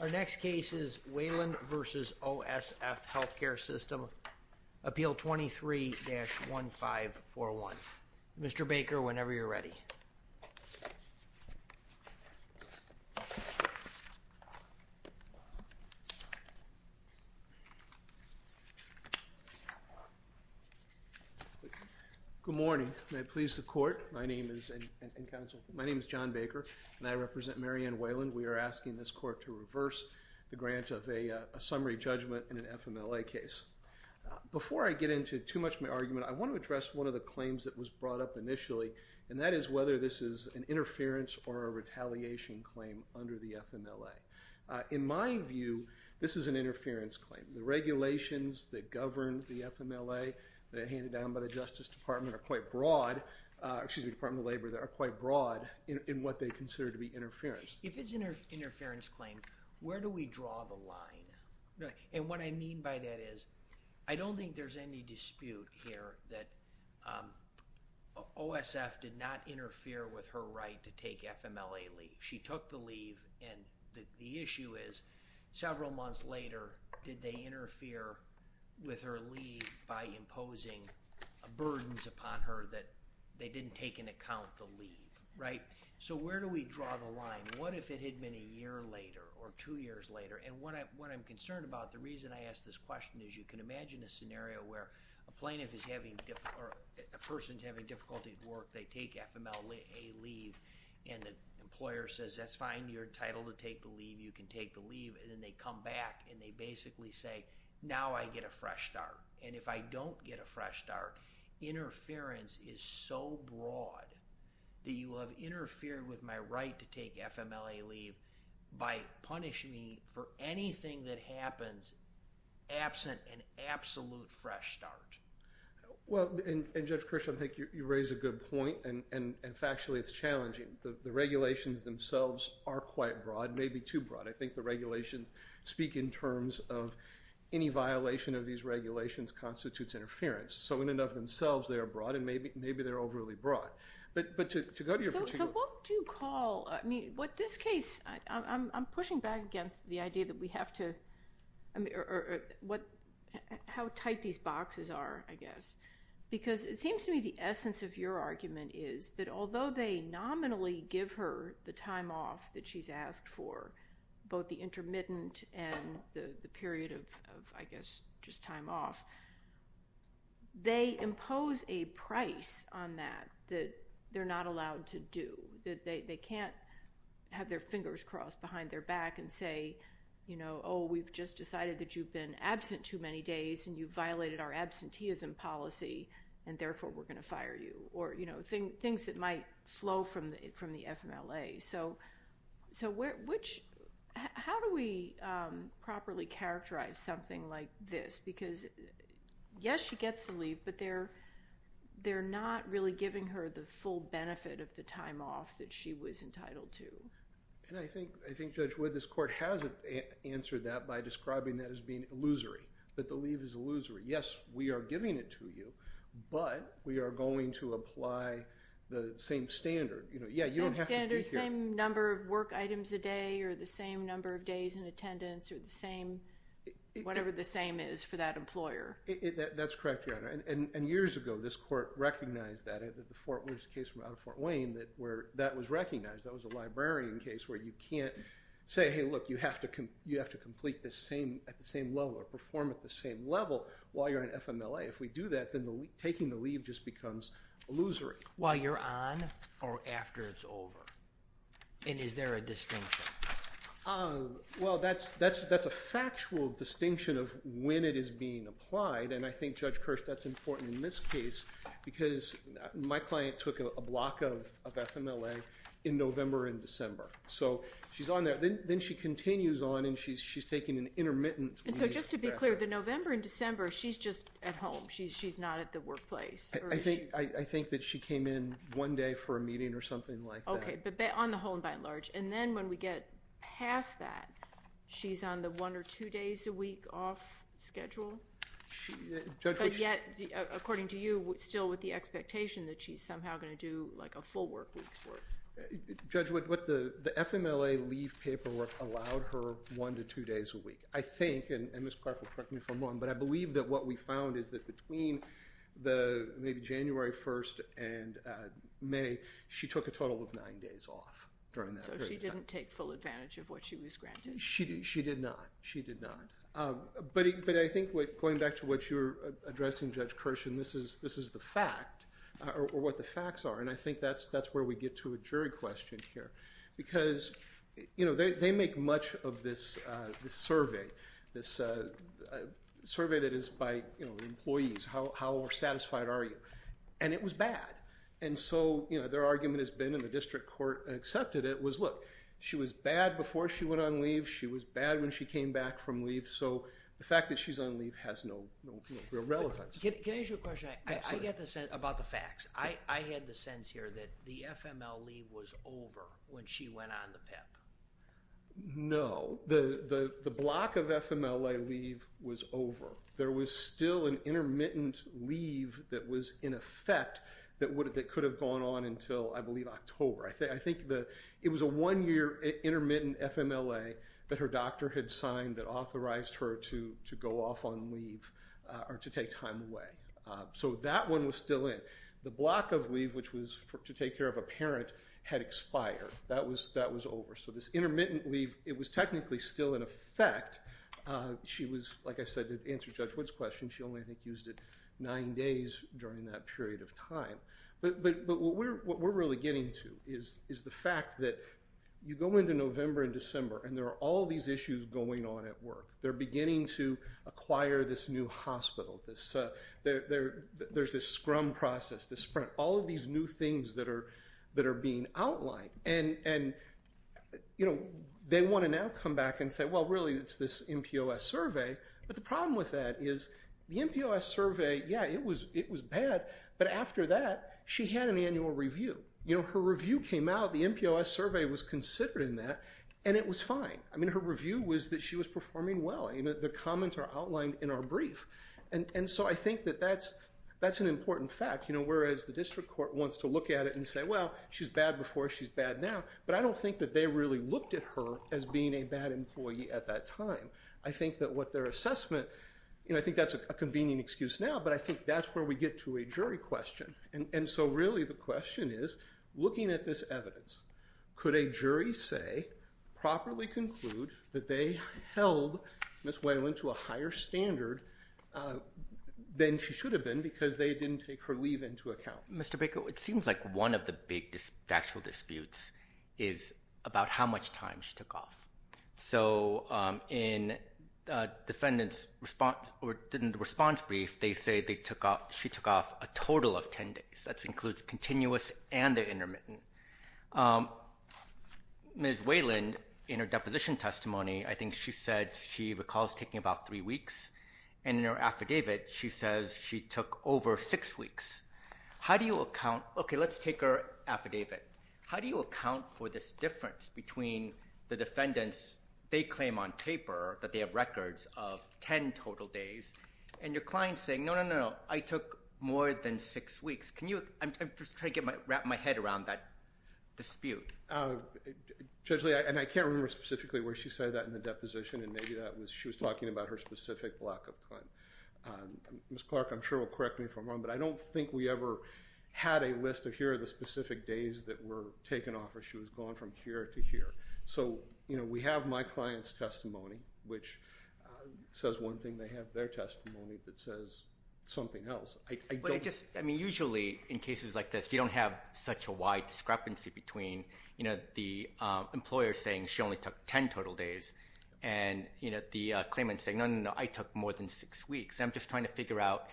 Our next case is Wayland v. OSF Healthcare System, Appeal 23-1541. Mr. Baker, whenever you're ready. Good morning. May it please the Court, my name is John Baker, and I represent Mary Ann Wayland. We are asking this Court to reverse the grant of a summary judgment in an FMLA case. Before I get into too much of my argument, I want to address one of the claims that was brought up initially, and that is whether this is an interference or a retaliation claim under the FMLA. In my view, this is an interference claim. The regulations that govern the FMLA that are handed down by the Justice Department are quite broad, excuse me, Department of Labor, that are quite broad in what they consider to be interference. If it's an interference claim, where do we draw the line? And what I mean by that is, I don't think there's any dispute here that OSF did not interfere with her right to take FMLA leave. She took the leave, and the issue is, several months later, did they interfere with her leave by imposing burdens upon her that they didn't take into account the leave, right? So where do we draw the line? What if it had been a year later or two years later? And what I'm concerned about, the reason I ask this question is you can imagine a scenario where a plaintiff is having, or a person's having difficulty at work, they take FMLA leave, and the employer says, that's fine, you're entitled to take the leave, you can take the leave, and then they come back and they basically say, now I get a fresh start. And if I don't get a fresh start, interference is so broad that you have interfered with my right to take FMLA leave by punishing me for anything that happens absent an absolute fresh start. Well, and Judge Kirsch, I think you raise a good point, and factually it's challenging. The regulations themselves are quite broad, maybe too broad. I think the regulations speak in terms of any violation of these regulations constitutes interference. So in and of themselves they are broad, and maybe they're overly broad. But to go to your particular... So what do you call, I mean, what this case, I'm pushing back against the idea that we have to, or how tight these boxes are, I guess. Because it seems to me the essence of your argument is that although they nominally give her the time off that she's asked for, both the intermittent and the period of, I guess, just time off, they impose a price on that that they're not allowed to do. They can't have their fingers crossed behind their back and say, you know, oh, we've just decided that you've been absent too many days, and you violated our absenteeism policy, and therefore we're going to fire you. Or, you know, things that might flow from the FMLA. So how do we properly characterize something like this? Because, yes, she gets the leave, but they're not really giving her the full benefit of the time off that she was entitled to. And I think, Judge Wood, this court has answered that by describing that as being illusory. That the leave is illusory. Yes, we are giving it to you, but we are going to apply the same standard. Same standard, same number of work items a day, or the same number of days in attendance, or the same, whatever the same is for that employer. That's correct, Your Honor. And years ago, this court recognized that. There's a case from out of Fort Wayne where that was recognized. That was a librarian case where you can't say, hey, look, you have to complete at the same level or perform at the same level while you're on FMLA. If we do that, then taking the leave just becomes illusory. While you're on or after it's over? And is there a distinction? Well, that's a factual distinction of when it is being applied. And I think, Judge Kirsch, that's important in this case because my client took a block of FMLA in November and December. So, she's on there. Then she continues on and she's taking an intermittent leave. And so, just to be clear, the November and December, she's just at home. She's not at the workplace. I think that she came in one day for a meeting or something like that. Okay, but on the whole and by and large. And then when we get past that, she's on the one or two days a week off schedule. But yet, according to you, still with the expectation that she's somehow going to do like a full work week's worth. Judge, what the FMLA leave paperwork allowed her one to two days a week. I think, and Ms. Clark will correct me if I'm wrong, but I believe that what we found is that between maybe January 1st and May, she took a total of nine days off. So, she didn't take full advantage of what she was granted? She did not. She did not. But I think going back to what you're addressing, Judge Kirsch, and this is the fact or what the facts are. And I think that's where we get to a jury question here. Because they make much of this survey. This survey that is by employees. How satisfied are you? And it was bad. And so, their argument has been, and the district court accepted it, was look. She was bad before she went on leave. She was bad when she came back from leave. So, the fact that she's on leave has no real relevance. Can I ask you a question? Absolutely. I get the sense about the facts. I get the sense here that the FMLA leave was over when she went on the PEP. No. The block of FMLA leave was over. There was still an intermittent leave that was in effect that could have gone on until, I believe, October. I think it was a one-year intermittent FMLA that her doctor had signed that authorized her to go off on leave or to take time away. So, that one was still in. The block of leave, which was to take care of a parent, had expired. That was over. So, this intermittent leave, it was technically still in effect. She was, like I said, to answer Judge Wood's question, she only, I think, used it nine days during that period of time. But what we're really getting to is the fact that you go into November and December and there are all these issues going on at work. They're beginning to acquire this new hospital. There's this scrum process, this sprint, all of these new things that are being outlined. And they want to now come back and say, well, really, it's this NPOS survey. But the problem with that is the NPOS survey, yeah, it was bad. But after that, she had an annual review. Her review came out. The NPOS survey was considered in that. And it was fine. I mean, her review was that she was performing well. The comments are outlined in our brief. And so, I think that that's an important fact. You know, whereas the district court wants to look at it and say, well, she's bad before, she's bad now. But I don't think that they really looked at her as being a bad employee at that time. I think that what their assessment, you know, I think that's a convenient excuse now. But I think that's where we get to a jury question. And so, really, the question is, looking at this evidence, could a jury say, properly conclude, that they held Ms. Whalen to a higher standard than she should have been because they didn't take her leave into account? Mr. Baker, it seems like one of the big factual disputes is about how much time she took off. So, in the defendant's response brief, they say she took off a total of 10 days. That includes continuous and the intermittent. Ms. Whalen, in her deposition testimony, I think she said she recalls taking about three weeks. And in her affidavit, she says she took over six weeks. How do you account? Okay, let's take her affidavit. How do you account for this difference between the defendants? They claim on paper that they have records of 10 total days. And your client's saying, no, no, no, I took more than six weeks. Can you, I'm just trying to wrap my head around that dispute. Judge Lee, and I can't remember specifically where she said that in the deposition. And maybe that was, she was talking about her specific block of claim. Ms. Clark, I'm sure, will correct me if I'm wrong. But I don't think we ever had a list of here are the specific days that were taken off or she was gone from here to here. So, you know, we have my client's testimony, which says one thing. They have their testimony that says something else. But I just, I mean, usually in cases like this, you don't have such a wide discrepancy between, you know, the employer saying she only took 10 total days. And, you know, the claimant saying, no, no, no, I took more than six weeks. And I'm just trying to figure out,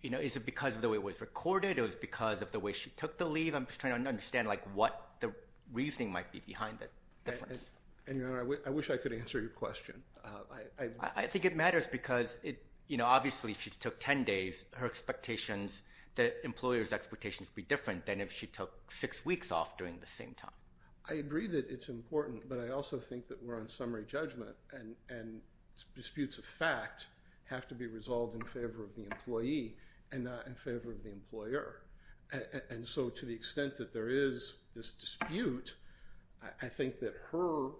you know, is it because of the way it was recorded? Or is it because of the way she took the leave? I'm just trying to understand, like, what the reasoning might be behind the difference. And, Your Honor, I wish I could answer your question. I think it matters because, you know, obviously if she took 10 days, her expectations, the employer's expectations would be different than if she took six weeks off during the same time. I agree that it's important, but I also think that we're on summary judgment. And disputes of fact have to be resolved in favor of the employee and not in favor of the employer. And so to the extent that there is this dispute, I think that her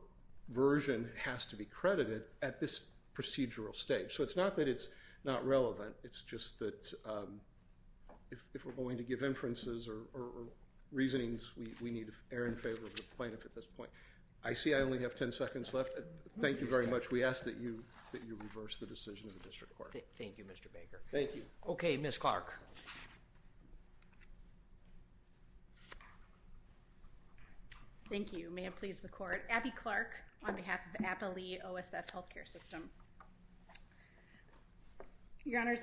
version has to be credited at this procedural stage. So it's not that it's not relevant. It's just that if we're going to give inferences or reasonings, we need to err in favor of the plaintiff at this point. I see I only have 10 seconds left. Thank you very much. We ask that you reverse the decision in the District Court. Thank you, Mr. Baker. Thank you. Okay, Ms. Clark. Thank you. May it please the Court. Abby Clark on behalf of Appalee OSF Healthcare System. Your Honors,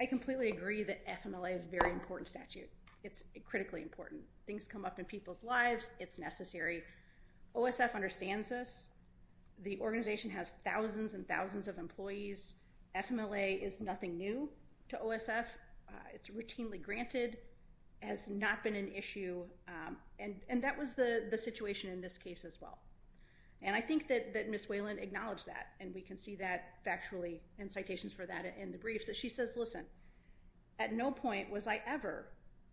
I completely agree that FMLA is a very important statute. It's critically important. Things come up in people's lives. It's necessary. OSF understands this. The organization has thousands and thousands of employees. FMLA is nothing new to OSF. It's routinely granted. It has not been an issue. And that was the situation in this case as well. And I think that Ms. Wayland acknowledged that. And we can see that factually in citations for that in the briefs. She says, listen, at no point was I ever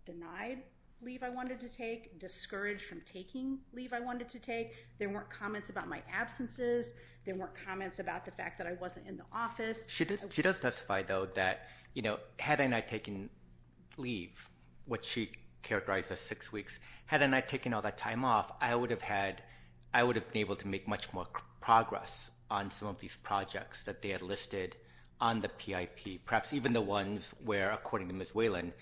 denied leave I wanted to take, discouraged from taking leave I wanted to take. There weren't comments about my absences. There weren't comments about the fact that I wasn't in the office. She does specify, though, that, you know, had I not taken leave, which she characterized as six weeks, had I not taken all that time off, I would have been able to make much more progress on some of these projects that they had listed on the PIP, perhaps even the ones where, according to Ms. Wayland,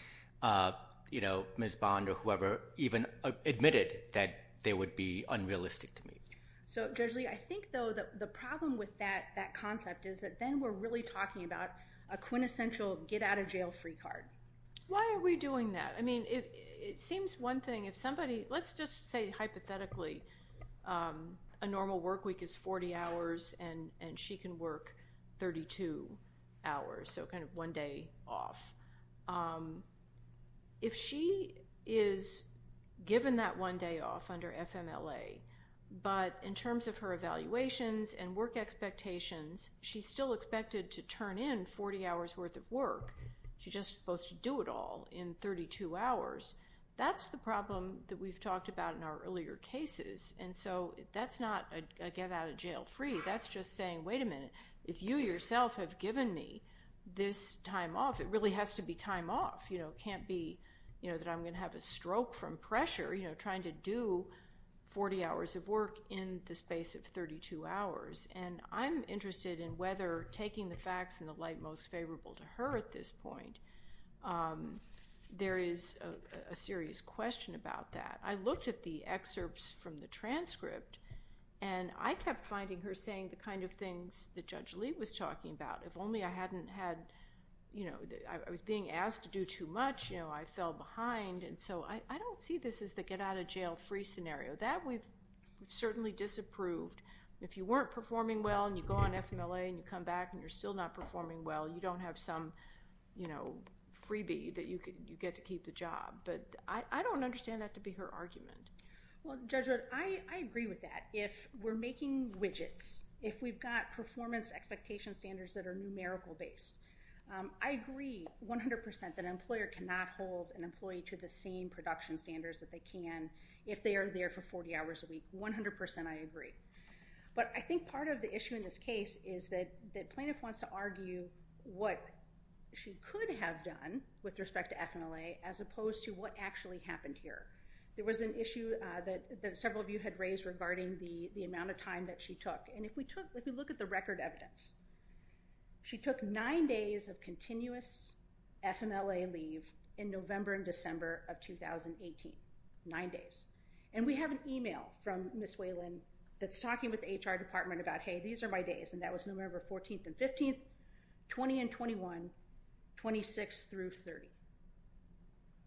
you know, Ms. Bond or whoever even admitted that they would be unrealistic to me. So, Judge Lee, I think, though, the problem with that concept is that then we're really talking about a quintessential get-out-of-jail-free card. Why are we doing that? I mean, it seems one thing if somebody – let's just say hypothetically a normal work week is 40 hours and she can work 32 hours, so kind of one day off. If she is given that one day off under FMLA, but in terms of her evaluations and work expectations, she's still expected to turn in 40 hours' worth of work. She's just supposed to do it all in 32 hours. That's the problem that we've talked about in our earlier cases. And so that's not a get-out-of-jail-free. That's just saying, wait a minute, if you yourself have given me this time off, it really has to be time off. It can't be that I'm going to have a stroke from pressure trying to do 40 hours of work in the space of 32 hours. And I'm interested in whether taking the facts in the light most favorable to her at this point. There is a serious question about that. I looked at the excerpts from the transcript, and I kept finding her saying the kind of things that Judge Lee was talking about. If only I hadn't had – I was being asked to do too much, I fell behind. And so I don't see this as the get-out-of-jail-free scenario. That we've certainly disapproved. If you weren't performing well and you go on FMLA and you come back and you're still not performing well, you don't have some, you know, freebie that you get to keep the job. But I don't understand that to be her argument. Well, Judge Wood, I agree with that. If we're making widgets, if we've got performance expectation standards that are numerical-based, I agree 100% that an employer cannot hold an employee to the same production standards that they can if they are there for 40 hours a week. 100% I agree. But I think part of the issue in this case is that the plaintiff wants to argue what she could have done with respect to FMLA as opposed to what actually happened here. There was an issue that several of you had raised regarding the amount of time that she took. And if we look at the record evidence, she took nine days of continuous FMLA leave in November and December of 2018. Nine days. And we have an e-mail from Ms. Whalen that's talking with the HR department about, hey, these are my days, and that was November 14th and 15th, 20 and 21, 26 through 30.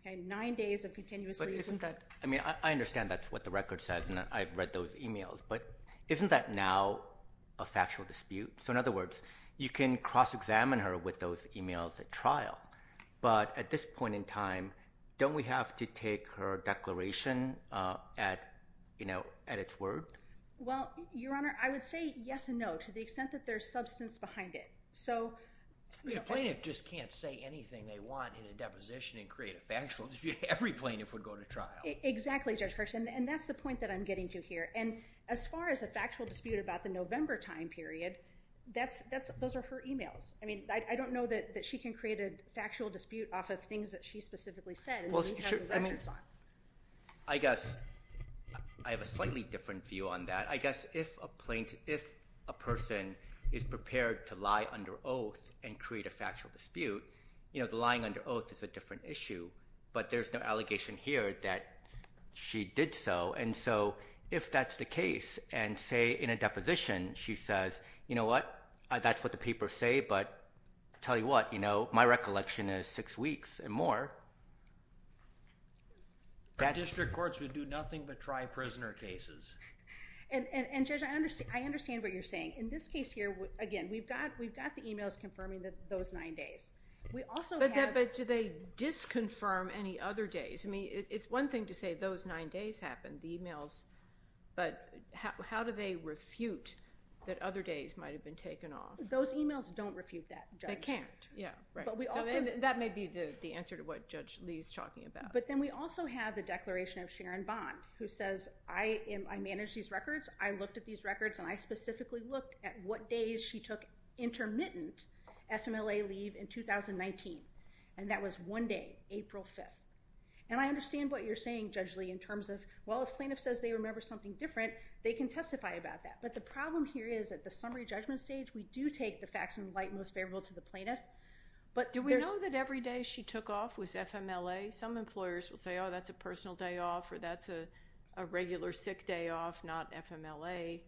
Okay, nine days of continuous leave. But isn't that, I mean, I understand that's what the record says and I've read those e-mails, but isn't that now a factual dispute? So in other words, you can cross-examine her with those e-mails at trial, but at this point in time, don't we have to take her declaration at its word? Well, Your Honor, I would say yes and no to the extent that there's substance behind it. A plaintiff just can't say anything they want in a deposition and create a factual dispute. Every plaintiff would go to trial. Exactly, Judge Kirsch, and that's the point that I'm getting to here. And as far as a factual dispute about the November time period, those are her e-mails. I mean, I don't know that she can create a factual dispute off of things that she specifically said. I mean, I guess I have a slightly different view on that. I guess if a person is prepared to lie under oath and create a factual dispute, you know, the lying under oath is a different issue, but there's no allegation here that she did so. And so if that's the case and, say, in a deposition she says, you know what, that's what the papers say, but tell you what, you know, my recollection is six weeks and more. District courts would do nothing but try prisoner cases. And, Judge, I understand what you're saying. In this case here, again, we've got the e-mails confirming those nine days. But do they disconfirm any other days? I mean, it's one thing to say those nine days happened, the e-mails, but how do they refute that other days might have been taken off? Those e-mails don't refute that, Judge. They can't, yeah, right. That may be the answer to what Judge Lee is talking about. But then we also have the declaration of Sharon Bond, who says, I manage these records, I looked at these records, and I specifically looked at what days she took intermittent FMLA leave in 2019, and that was one day, April 5th. And I understand what you're saying, Judge Lee, in terms of, well, if a plaintiff says they remember something different, they can testify about that. But the problem here is at the summary judgment stage, we do take the facts in light most favorable to the plaintiff. But do we know that every day she took off was FMLA? Some employers will say, oh, that's a personal day off, or that's a regular sick day off, not FMLA.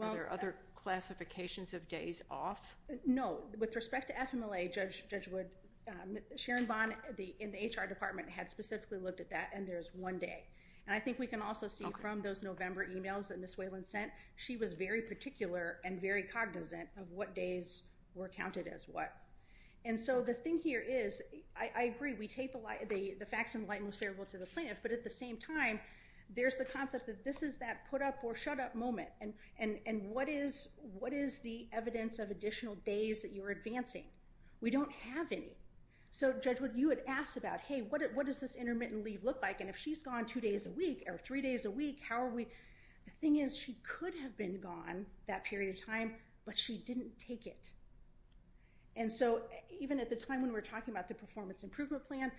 Are there other classifications of days off? No. With respect to FMLA, Judge Wood, Sharon Bond in the HR department had specifically looked at that, and there's one day. And I think we can also see from those November emails that Ms. Whalen sent, she was very particular and very cognizant of what days were counted as what. And so the thing here is, I agree, we take the facts in light most favorable to the plaintiff, but at the same time, there's the concept that this is that put up or shut up moment. And what is the evidence of additional days that you're advancing? We don't have any. So, Judge Wood, you had asked about, hey, what does this intermittent leave look like? And if she's gone two days a week or three days a week, how are we? The thing is, she could have been gone that period of time, but she didn't take it. And so even at the time when we were talking about the performance improvement plan,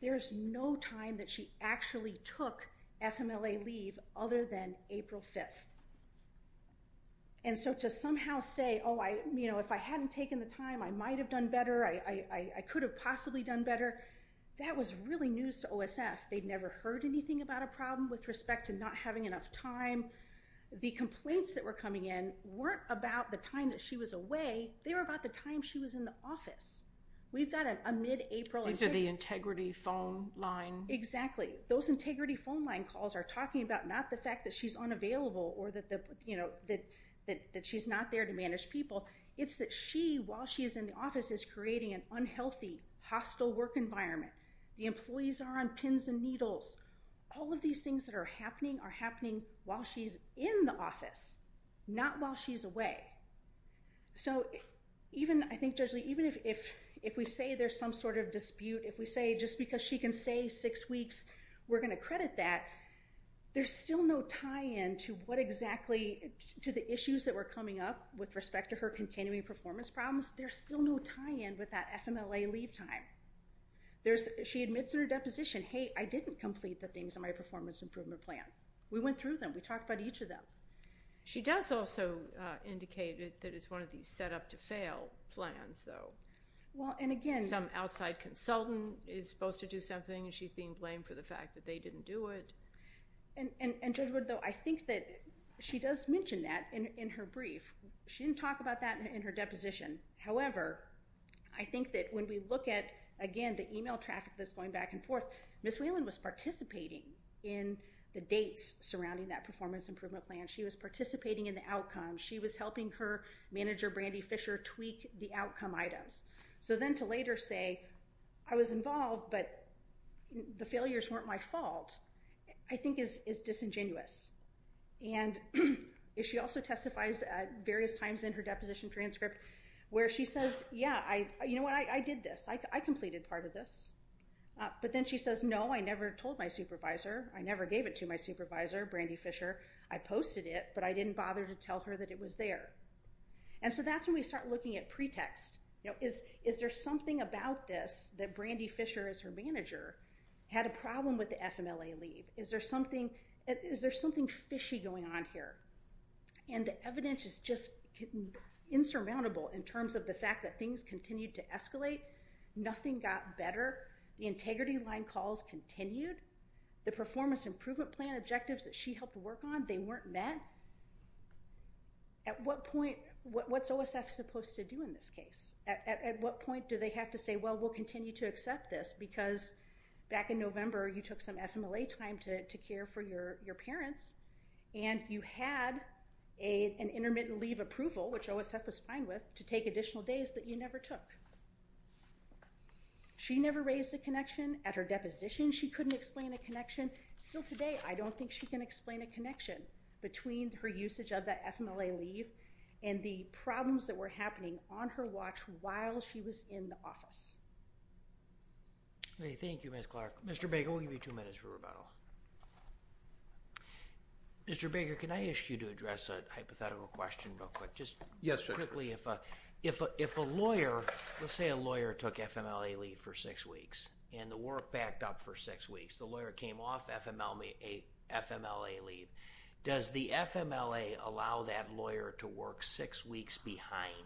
there's no time that she actually took FMLA leave other than April 5th. And so to somehow say, oh, you know, if I hadn't taken the time, I might have done better, I could have possibly done better, that was really news to OSF. They'd never heard anything about a problem with respect to not having enough time. The complaints that were coming in weren't about the time that she was away. They were about the time she was in the office. We've got a mid-April. These are the integrity phone line. Exactly. Those integrity phone line calls are talking about not the fact that she's unavailable or that she's not there to manage people. It's that she, while she's in the office, is creating an unhealthy, hostile work environment. The employees are on pins and needles. All of these things that are happening are happening while she's in the office, not while she's away. So even, I think, Judge Lee, even if we say there's some sort of dispute, if we say just because she can stay six weeks, we're going to credit that, there's still no tie-in to what exactly to the issues that were coming up with respect to her continuing performance problems. There's still no tie-in with that FMLA leave time. She admits in her deposition, hey, I didn't complete the things in my performance improvement plan. We went through them. We talked about each of them. She does also indicate that it's one of these set-up-to-fail plans, though. Some outside consultant is supposed to do something, and she's being blamed for the fact that they didn't do it. And, Judge Wood, though, I think that she does mention that in her brief. She didn't talk about that in her deposition. However, I think that when we look at, again, the email traffic that's going back and forth, Ms. Whelan was participating in the dates surrounding that performance improvement plan. She was participating in the outcomes. She was helping her manager, Brandy Fisher, tweak the outcome items. So then to later say, I was involved, but the failures weren't my fault, I think is disingenuous. And she also testifies at various times in her deposition transcript where she says, yeah, you know what, I did this. I completed part of this. But then she says, no, I never told my supervisor. I never gave it to my supervisor, Brandy Fisher. I posted it, but I didn't bother to tell her that it was there. And so that's when we start looking at pretext. Is there something about this that Brandy Fisher, as her manager, had a problem with the FMLA leave? Is there something fishy going on here? And the evidence is just insurmountable in terms of the fact that things continue to escalate. Nothing got better. The integrity line calls continued. The performance improvement plan objectives that she helped work on, they weren't met. At what point, what's OSF supposed to do in this case? At what point do they have to say, well, we'll continue to accept this, because back in November, you took some FMLA time to care for your parents, and you had an intermittent leave approval, which OSF was fine with, to take additional days that you never took. She never raised a connection. At her deposition, she couldn't explain a connection. Still today, I don't think she can explain a connection between her usage of that FMLA leave and the problems that were happening on her watch while she was in the office. Thank you, Ms. Clark. Mr. Baker, we'll give you two minutes for rebuttal. Mr. Baker, can I ask you to address a hypothetical question real quick? Yes, sir. If a lawyer, let's say a lawyer took FMLA leave for six weeks, and the work backed up for six weeks. The lawyer came off FMLA leave. Does the FMLA allow that lawyer to work six weeks behind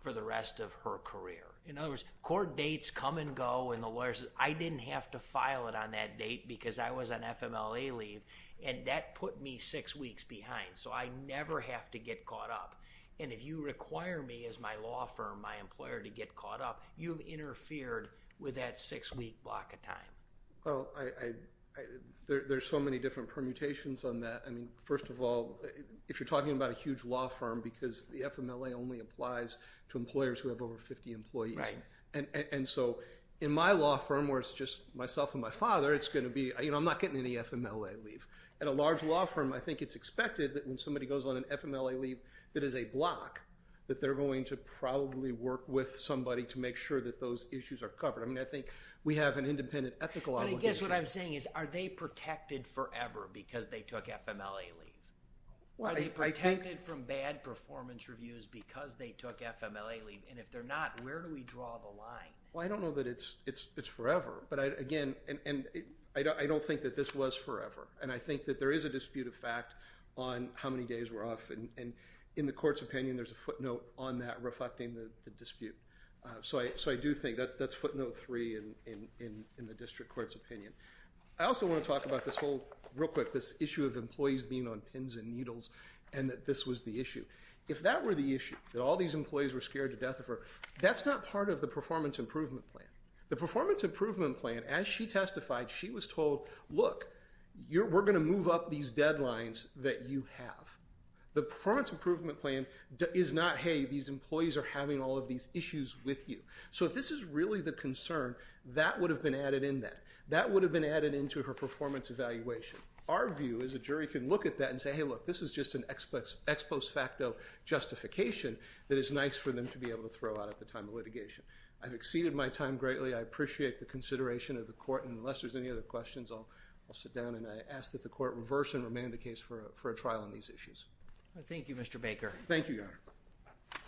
for the rest of her career? In other words, court dates come and go, and the lawyer says, I didn't have to file it on that date because I was on FMLA leave, and that put me six weeks behind, so I never have to get caught up. And if you require me as my law firm, my employer, to get caught up, you've interfered with that six-week block of time. There's so many different permutations on that. First of all, if you're talking about a huge law firm, because the FMLA only applies to employers who have over 50 employees. Right. And so in my law firm, where it's just myself and my father, it's going to be, you know, I'm not getting any FMLA leave. At a large law firm, I think it's expected that when somebody goes on an FMLA leave that is a block, that they're going to probably work with somebody to make sure that those issues are covered. I mean, I think we have an independent ethical obligation. I guess what I'm saying is, are they protected forever because they took FMLA leave? Are they protected from bad performance reviews because they took FMLA leave? And if they're not, where do we draw the line? Well, I don't know that it's forever. But, again, I don't think that this was forever. And I think that there is a dispute of fact on how many days we're off. And in the court's opinion, there's a footnote on that reflecting the dispute. So I do think that's footnote three in the district court's opinion. I also want to talk about this whole, real quick, this issue of employees being on pins and needles and that this was the issue. If that were the issue, that all these employees were scared to death of her, that's not part of the performance improvement plan. The performance improvement plan, as she testified, she was told, look, we're going to move up these deadlines that you have. The performance improvement plan is not, hey, these employees are having all of these issues with you. So if this is really the concern, that would have been added in then. That would have been added into her performance evaluation. Our view is a jury can look at that and say, hey, look, this is just an ex post facto justification that is nice for them to be able to throw out at the time of litigation. I've exceeded my time greatly. I appreciate the consideration of the court. And unless there's any other questions, I'll sit down. And I ask that the court reverse and remand the case for a trial on these issues. Thank you, Mr. Baker. Thank you, Your Honor.